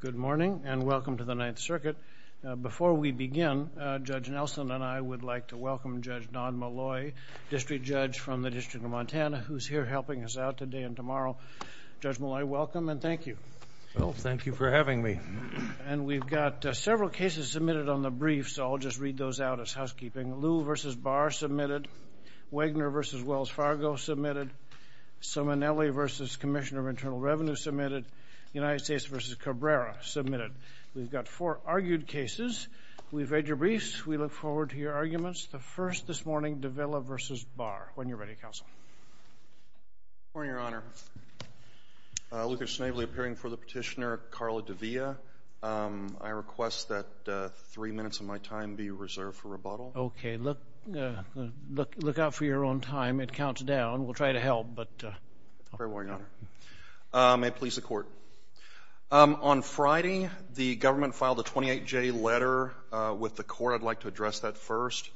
Good morning, and welcome to the Ninth Circuit. Before we begin, Judge Nelson and I would like to welcome Judge Don Molloy, District Judge from the District of Montana, who's here helping us out today and tomorrow. Judge Molloy, welcome and thank you. Well, thank you for having me. And we've got several cases submitted on the brief, so I'll just read those out as housekeeping. Wagner v. Wells Fargo, submitted. Simonelli v. Commissioner of Internal Revenue, submitted. United States v. Cabrera, submitted. We've got four argued cases. We've read your briefs. We look forward to your arguments. The first this morning, Davila v. Barr. When you're ready, Counsel. Good morning, Your Honor. Luther Snavely appearing before the Petitioner, Carla De Villa. I request that three minutes of my time be reserved for rebuttal. Okay, look out for your own time. It counts down. We'll try to help. Very well, Your Honor. May it please the Court. On Friday, the government filed a 28-J letter with the court. I'd like to address that first.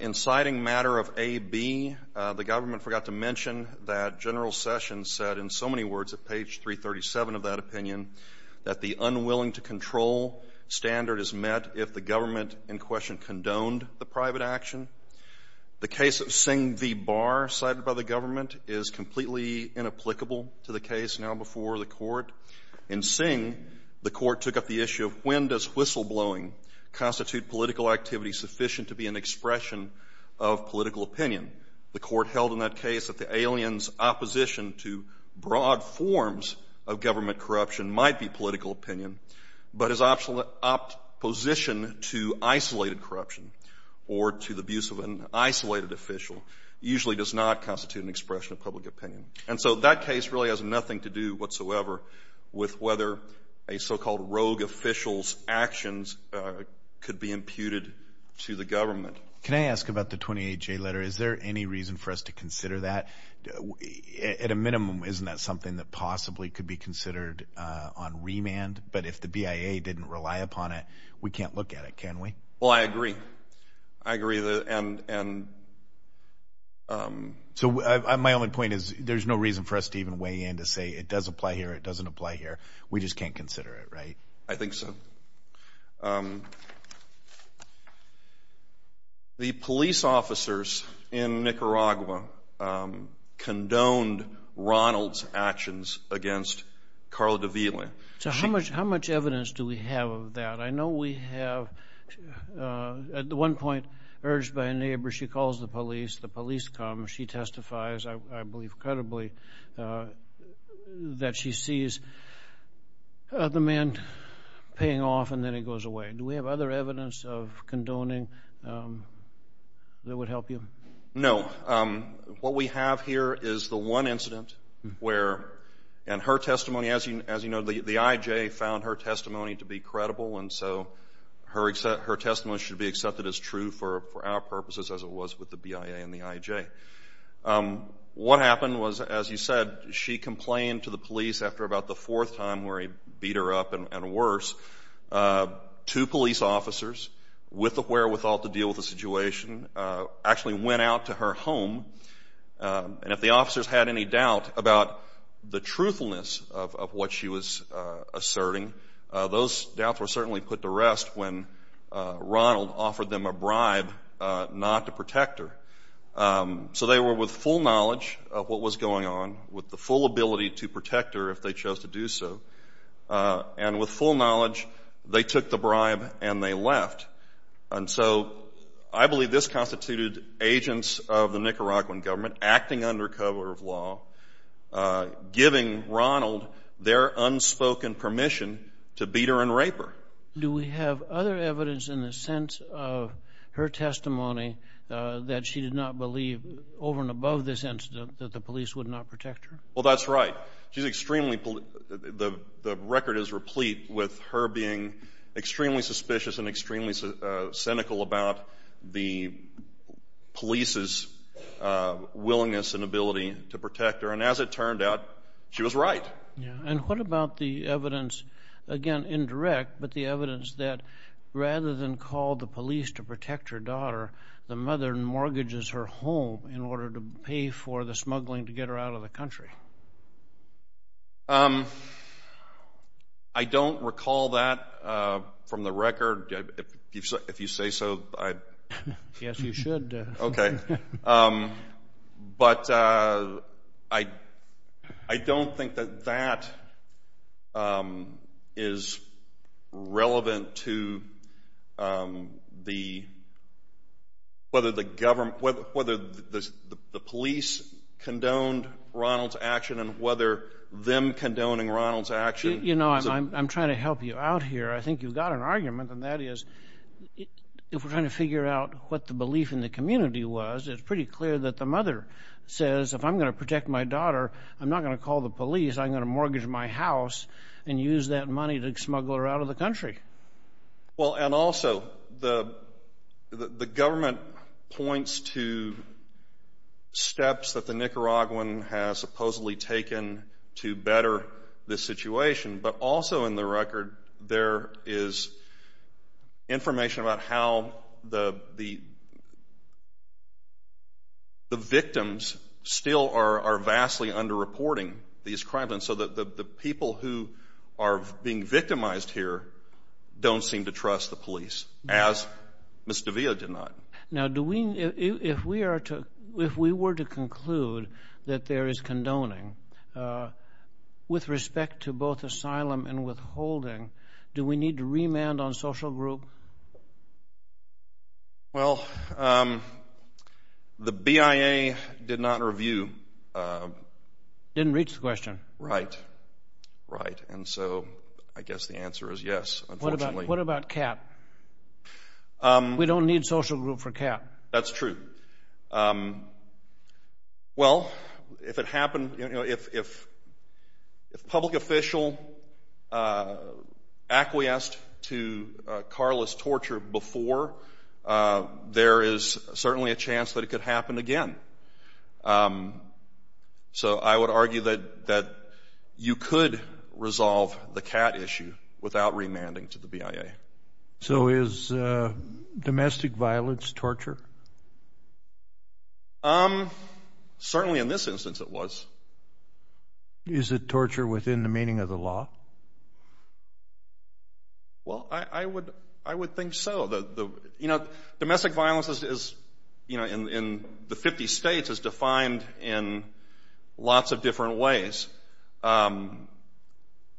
In citing matter of AB, the government forgot to mention that General Sessions said, in so many words at page 337 of that opinion, that the unwilling-to-control standard is met if the government in question condoned the private action. The case of Singh v. Barr cited by the government is completely inapplicable to the case now before the court. In Singh, the court took up the issue of when does whistleblowing constitute political activity sufficient to be an expression of political opinion. The court held in that case that the alien's opposition to broad forms of government corruption might be political opinion, but his opposition to isolated corruption or to the abuse of an isolated official usually does not constitute an expression of public opinion. And so that case really has nothing to do whatsoever with whether a so-called rogue official's actions could be imputed to the government. Can I ask about the 28-J letter? Is there any reason for us to consider that? At a minimum, isn't that something that possibly could be considered on remand? But if the BIA didn't rely upon it, we can't look at it, can we? Well, I agree. I agree. So my only point is there's no reason for us to even weigh in to say it does apply here, it doesn't apply here. We just can't consider it, right? I think so. The police officers in Nicaragua condoned Ronald's actions against Carla de Villa. So how much evidence do we have of that? I know we have at one point urged by a neighbor, she calls the police, the police come, she testifies, I believe credibly, that she sees the man paying off and then he goes away. Do we have other evidence of condoning that would help you? No. What we have here is the one incident where, and her testimony, as you know, the IJ found her testimony to be credible and so her testimony should be accepted as true for our purposes as it was with the BIA and the IJ. What happened was, as you said, she complained to the police after about the fourth time where he beat her up and worse, two police officers with the wherewithal to deal with the situation actually went out to her home and if the officers had any doubt about the truthfulness of what she was asserting, those doubts were certainly put to rest when Ronald offered them a bribe not to protect her. So they were with full knowledge of what was going on, with the full ability to protect her if they chose to do so, and with full knowledge they took the bribe and they left. And so I believe this constituted agents of the Nicaraguan government acting under cover of law, giving Ronald their unspoken permission to beat her and rape her. Do we have other evidence in the sense of her testimony that she did not believe, over and above this incident, that the police would not protect her? Well, that's right. The record is replete with her being extremely suspicious and extremely cynical about the police's willingness and ability to protect her, and as it turned out, she was right. And what about the evidence, again, indirect, but the evidence that rather than call the police to protect her daughter, the mother mortgages her home in order to pay for the smuggling to get her out of the country? I don't recall that from the record. If you say so. Yes, you should. Okay. But I don't think that that is relevant to whether the police condoned Ronald's action and whether them condoning Ronald's action. You know, I'm trying to help you out here. I think you've got an argument, and that is if we're trying to figure out what the belief in the community was, it's pretty clear that the mother says, if I'm going to protect my daughter, I'm not going to call the police. I'm going to mortgage my house and use that money to smuggle her out of the country. Well, and also, the government points to steps that the Nicaraguan has supposedly taken to better this situation, but also in the record there is information about how the victims still are vastly underreporting these crimes and so that the people who are being victimized here don't seem to trust the police, as Ms. De Villa did not. Now, if we were to conclude that there is condoning, with respect to both asylum and withholding, do we need to remand on social group? Well, the BIA did not review. Didn't reach the question. Right, right, and so I guess the answer is yes, unfortunately. What about CAP? We don't need social group for CAP. That's true. Well, if it happened, you know, if public official acquiesced to Carla's torture before, there is certainly a chance that it could happen again. So I would argue that you could resolve the CAP issue without remanding to the BIA. So is domestic violence torture? Certainly in this instance it was. Is it torture within the meaning of the law? Well, I would think so. Domestic violence in the 50 states is defined in lots of different ways.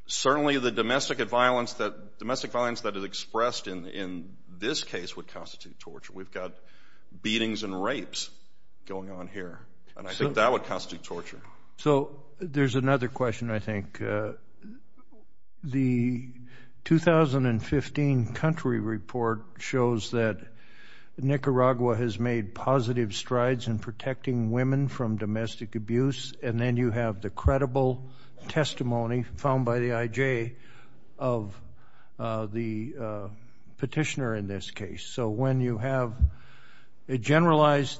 Certainly the domestic violence that is expressed in this case would constitute torture. We've got beatings and rapes going on here, and I think that would constitute torture. So there's another question, I think. The 2015 country report shows that Nicaragua has made positive strides in protecting women from domestic abuse, and then you have the credible testimony found by the IJ of the petitioner in this case. So when you have a generalized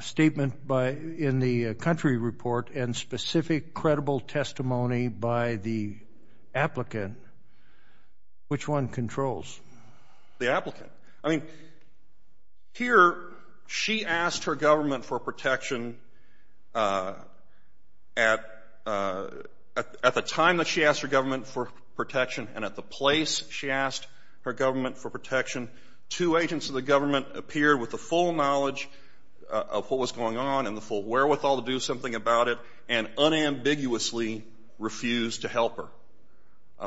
statement in the country report and specific credible testimony by the applicant, which one controls? The applicant. I mean, here she asked her government for protection at the time that she asked her government for protection, and at the place she asked her government for protection, two agents of the government appeared with the full knowledge of what was going on and the full wherewithal to do something about it and unambiguously refused to help her.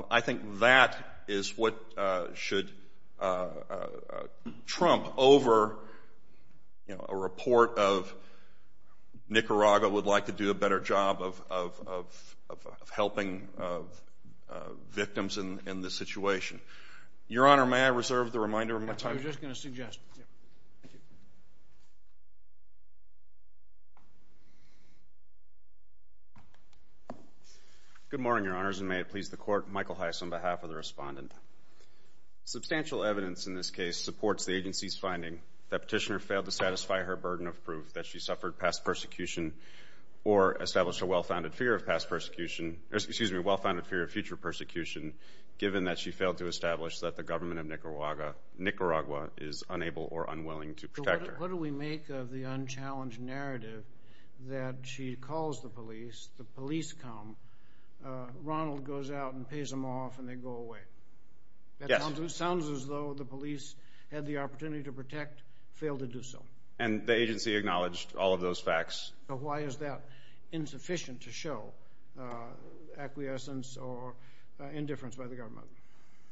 I think that is what should trump over, you know, a report of Nicaragua would like to do a better job of helping victims in this situation. Your Honor, may I reserve the reminder of my time? I was just going to suggest. Good morning, Your Honors, and may it please the Court, Michael Heiss on behalf of the Respondent. Substantial evidence in this case supports the agency's finding that the petitioner failed to satisfy her burden of proof that she suffered past persecution or established a well-founded fear of future persecution given that she failed to establish that the government of Nicaragua is unable or unwilling to protect her. What do we make of the unchallenged narrative that she calls the police, the police come, Ronald goes out and pays them off, and they go away? Yes. It sounds as though the police had the opportunity to protect, failed to do so. And the agency acknowledged all of those facts. Why is that insufficient to show acquiescence or indifference by the government?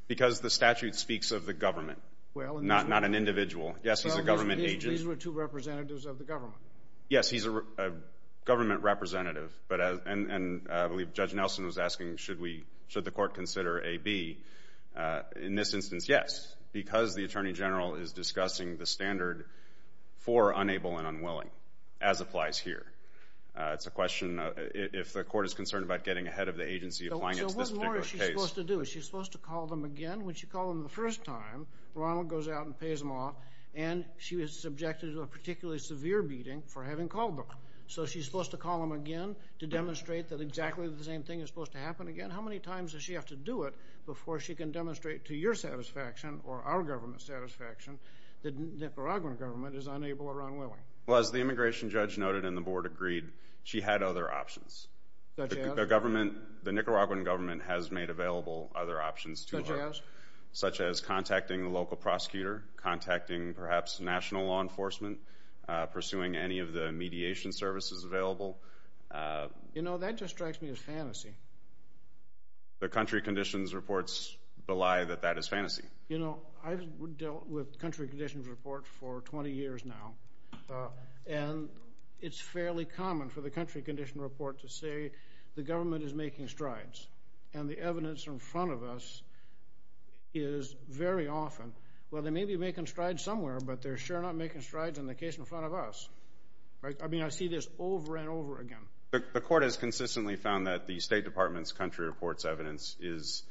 Because the statute speaks of the government, not an individual. Yes, he's a government agent. These were two representatives of the government. Yes, he's a government representative, and I believe Judge Nelson was asking, should the Court consider A, B. In this instance, yes, because the Attorney General is discussing the standard for unable and unwilling, as applies here. It's a question, if the Court is concerned about getting ahead of the agency applying it to this particular case. So what more is she supposed to do? Is she supposed to call them again? When she called them the first time, Ronald goes out and pays them off, and she was subjected to a particularly severe beating for having called them. So she's supposed to call them again to demonstrate that exactly the same thing is supposed to happen again? How many times does she have to do it before she can demonstrate to your satisfaction or our government's satisfaction that the Nicaraguan government is unable or unwilling? Well, as the immigration judge noted and the Board agreed, she had other options. Such as? The government, the Nicaraguan government has made available other options to her. Such as? Such as contacting the local prosecutor, contacting perhaps national law enforcement, pursuing any of the mediation services available. You know, that just strikes me as fantasy. The country conditions reports belie that that is fantasy. You know, I've dealt with country conditions reports for 20 years now, and it's fairly common for the country conditions report to say the government is making strides, and the evidence in front of us is very often, well, they may be making strides somewhere, but they're sure not making strides in the case in front of us. I mean, I see this over and over again. The court has consistently found that the State Department's country reports evidence is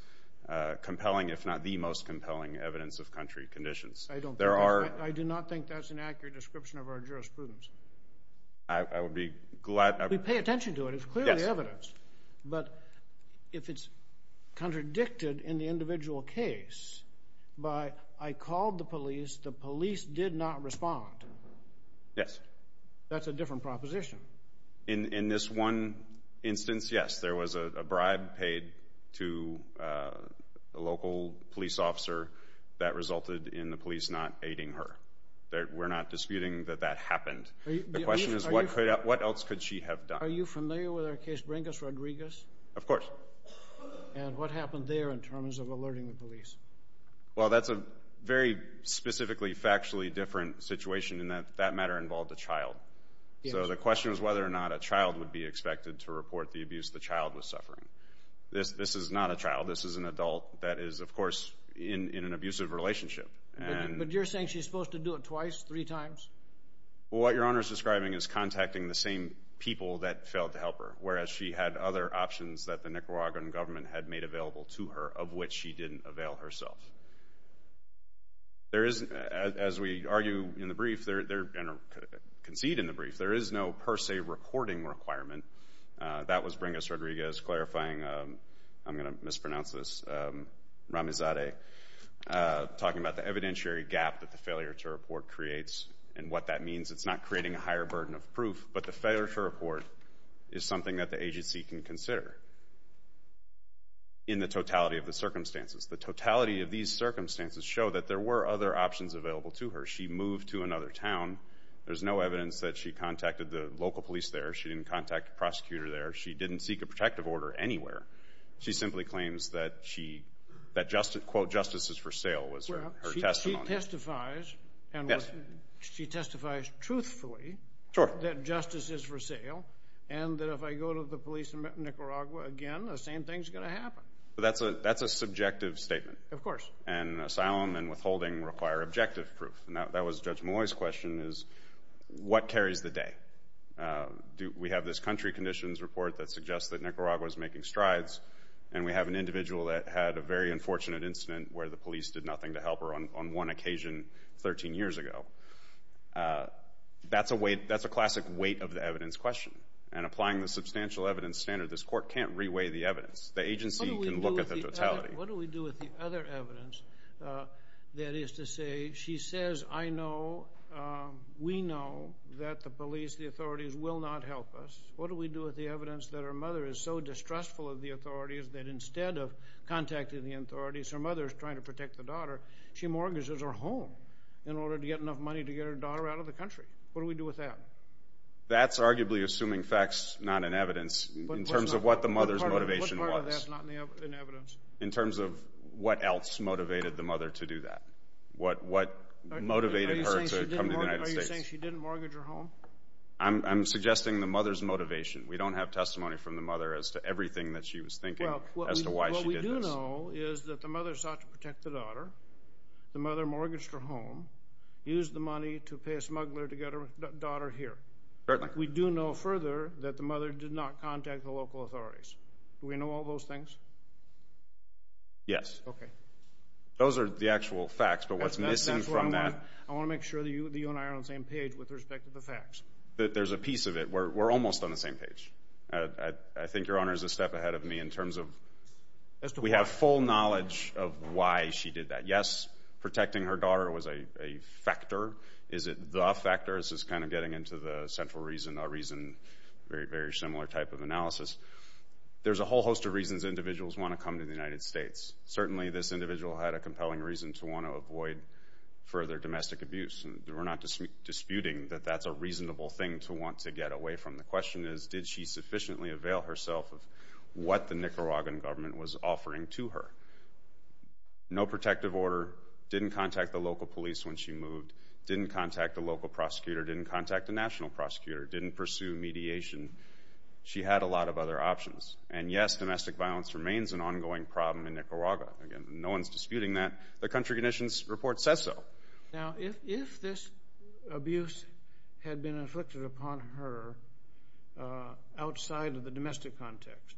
compelling, if not the most compelling evidence of country conditions. I do not think that's an accurate description of our jurisprudence. I would be glad. We pay attention to it. It's clearly evidence. But if it's contradicted in the individual case by I called the police, the police did not respond. Yes. That's a different proposition. In this one instance, yes, there was a bribe paid to a local police officer that resulted in the police not aiding her. We're not disputing that that happened. The question is what else could she have done? Are you familiar with our case Bringus-Rodriguez? Of course. And what happened there in terms of alerting the police? Well, that's a very specifically factually different situation in that that matter involved a child. So the question is whether or not a child would be expected to report the abuse the child was suffering. This is not a child. This is an adult that is, of course, in an abusive relationship. But you're saying she's supposed to do it twice, three times? Well, what Your Honor is describing is contacting the same people that failed to help her, whereas she had other options that the Nicaraguan government had made available to her of which she didn't avail herself. There is, as we argue in the brief, and concede in the brief, there is no per se reporting requirement. That was Bringus-Rodriguez clarifying, I'm going to mispronounce this, Ramizadeh, talking about the evidentiary gap that the failure to report creates and what that means. It's not creating a higher burden of proof, but the failure to report is something that the agency can consider in the totality of the circumstances. The totality of these circumstances show that there were other options available to her. She moved to another town. There's no evidence that she contacted the local police there. She didn't contact a prosecutor there. She didn't seek a protective order anywhere. She simply claims that, quote, justice is for sale was her testimony. She testifies truthfully that justice is for sale and that if I go to the police in Nicaragua again, the same thing is going to happen. That's a subjective statement. Of course. And asylum and withholding require objective proof. That was Judge Malloy's question is, what carries the day? We have this country conditions report that suggests that Nicaragua is making strides, and we have an individual that had a very unfortunate incident where the police did nothing to help her on one occasion 13 years ago. That's a classic weight of the evidence question, and applying the substantial evidence standard, this court can't reweigh the evidence. The agency can look at the totality. What do we do with the other evidence that is to say she says, I know, we know that the police, the authorities will not help us? What do we do with the evidence that her mother is so distrustful of the authorities that instead of contacting the authorities, her mother is trying to protect the daughter, she mortgages her home in order to get enough money to get her daughter out of the country? What do we do with that? That's arguably assuming facts, not an evidence, in terms of what the mother's motivation was, in terms of what else motivated the mother to do that, what motivated her to come to the United States. Are you saying she didn't mortgage her home? I'm suggesting the mother's motivation. We don't have testimony from the mother as to everything that she was thinking as to why she did this. What we do know is that the mother sought to protect the daughter. The mother mortgaged her home, used the money to pay a smuggler to get her daughter here. Certainly. We do know further that the mother did not contact the local authorities. Do we know all those things? Yes. Okay. Those are the actual facts, but what's missing from that. I want to make sure that you and I are on the same page with respect to the facts. There's a piece of it. We're almost on the same page. I think Your Honor is a step ahead of me in terms of we have full knowledge of why she did that. Yes, protecting her daughter was a factor. Is it the factor? This is kind of getting into the central reason, a very similar type of analysis. There's a whole host of reasons individuals want to come to the United States. Certainly this individual had a compelling reason to want to avoid further domestic abuse. We're not disputing that that's a reasonable thing to want to get away from. The question is, did she sufficiently avail herself of what the Nicaraguan government was offering to her? No protective order, didn't contact the local police when she moved, didn't contact a local prosecutor, didn't contact a national prosecutor, didn't pursue mediation. She had a lot of other options. And, yes, domestic violence remains an ongoing problem in Nicaragua. Again, no one's disputing that. The country conditions report says so. Now, if this abuse had been inflicted upon her outside of the domestic context,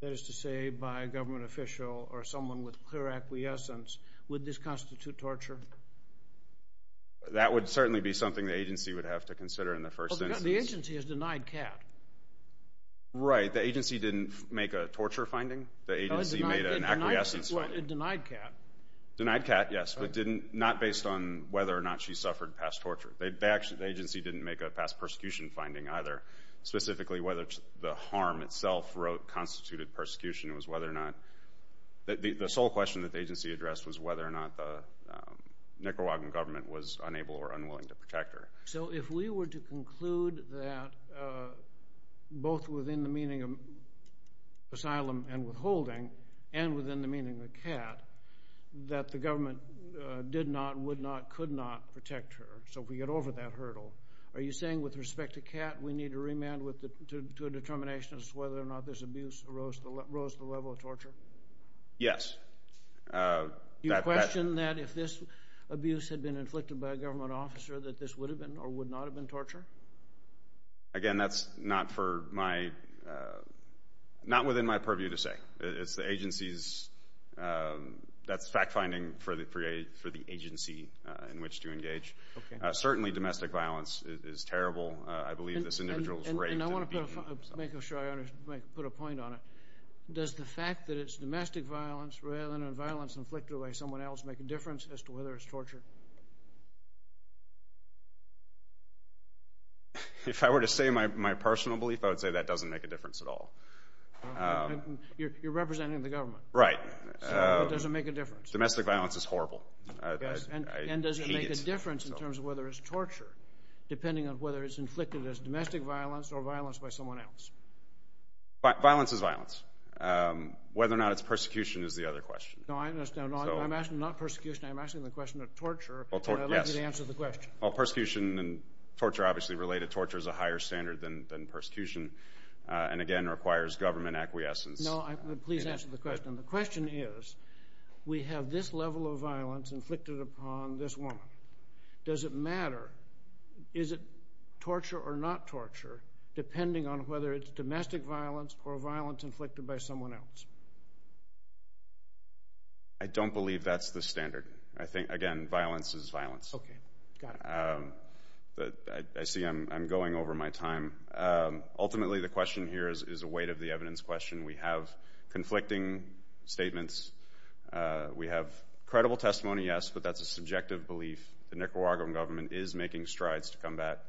that is to say by a government official or someone with clear acquiescence, would this constitute torture? That would certainly be something the agency would have to consider in the first instance. Well, the agency has denied CAT. Right, the agency didn't make a torture finding. The agency made an acquiescence finding. Well, it denied CAT. Denied CAT, yes, but not based on whether or not she suffered past torture. The agency didn't make a past persecution finding either, specifically whether the harm itself constituted persecution. It was whether or not the sole question that the agency addressed was whether or not the Nicaraguan government was unable or unwilling to protect her. So if we were to conclude that both within the meaning of asylum and withholding and within the meaning of CAT, that the government did not, would not, could not protect her, so if we get over that hurdle, are you saying with respect to CAT, we need to remand to a determination as to whether or not this abuse arose the level of torture? Yes. You question that if this abuse had been inflicted by a government officer, that this would have been or would not have been torture? Again, that's not for my, not within my purview to say. It's the agency's, that's fact finding for the agency in which to engage. Certainly domestic violence is terrible. I believe this individual was raped. And I want to make sure I put a point on it. Does the fact that it's domestic violence rather than violence inflicted by someone else make a difference as to whether it's torture? If I were to say my personal belief, I would say that doesn't make a difference at all. You're representing the government. Right. So it doesn't make a difference. Domestic violence is horrible. I hate it. And does it make a difference in terms of whether it's torture, depending on whether it's inflicted as domestic violence or violence by someone else? Violence is violence. Whether or not it's persecution is the other question. No, I understand. I'm asking not persecution. I'm asking the question of torture. I'd like you to answer the question. Well, persecution and torture are obviously related. Torture is a higher standard than persecution and, again, requires government acquiescence. No, please answer the question. The question is, we have this level of violence inflicted upon this woman. Does it matter? Is it torture or not torture, depending on whether it's domestic violence or violence inflicted by someone else? I don't believe that's the standard. Again, violence is violence. Okay. Got it. I see I'm going over my time. Ultimately, the question here is a weight of the evidence question. We have conflicting statements. We have credible testimony, yes, but that's a subjective belief. The Nicaraguan government is making strides to combat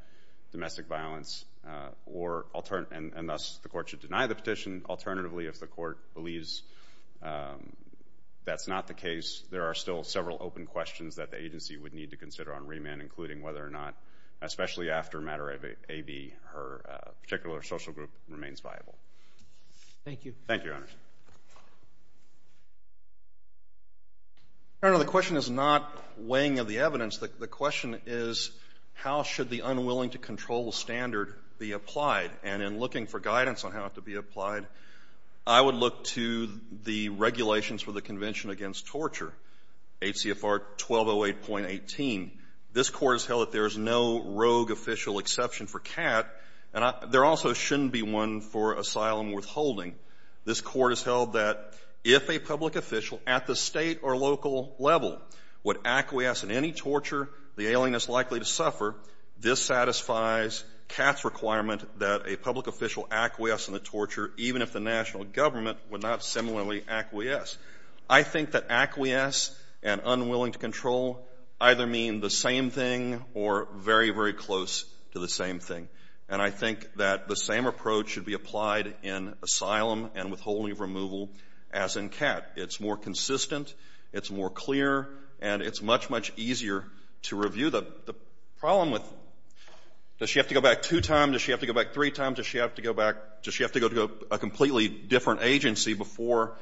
domestic violence, and thus the court should deny the petition. Alternatively, if the court believes that's not the case, there are still several open questions that the agency would need to consider on remand, including whether or not, especially after matter AB, her particular social group remains viable. Thank you, Your Honor. Your Honor, the question is not weighing of the evidence. The question is, how should the unwilling-to-control standard be applied? And in looking for guidance on how it could be applied, I would look to the regulations for the Convention Against Torture, HCFR 1208.18. This Court has held that there is no rogue official exception for CAT, and there also shouldn't be one for asylum withholding. This Court has held that if a public official at the State or local level would acquiesce in any torture the alien is likely to suffer, this satisfies CAT's requirement that a public official acquiesce in the torture, even if the national government would not similarly acquiesce. I think that acquiesce and unwilling-to-control either mean the same thing or very, very close to the same thing. And I think that the same approach should be applied in asylum and withholding of removal as in CAT. It's more consistent, it's more clear, and it's much, much easier to review. The problem with, does she have to go back two times? Does she have to go back three times? Does she have to go back? Does she have to go to a completely different agency before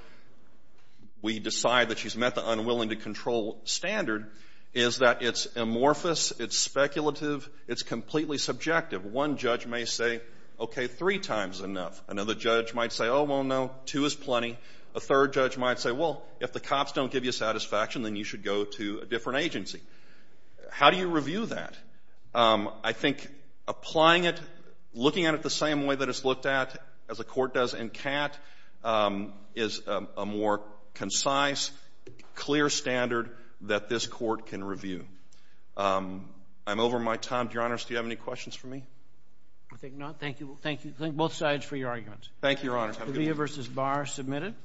we decide that she's met the unwilling-to-control standard? Is that it's amorphous, it's speculative, it's completely subjective. One judge may say, okay, three times is enough. Another judge might say, oh, well, no, two is plenty. A third judge might say, well, if the cops don't give you satisfaction, then you should go to a different agency. How do you review that? I think applying it, looking at it the same way that it's looked at as a court does in CAT is a more concise, clear standard that this court can review. I'm over my time. Your Honors, do you have any questions for me? I think not. Thank you. Thank both sides for your arguments. Thank you, Your Honors. Have a good one. Tavia v. Barr, submitted.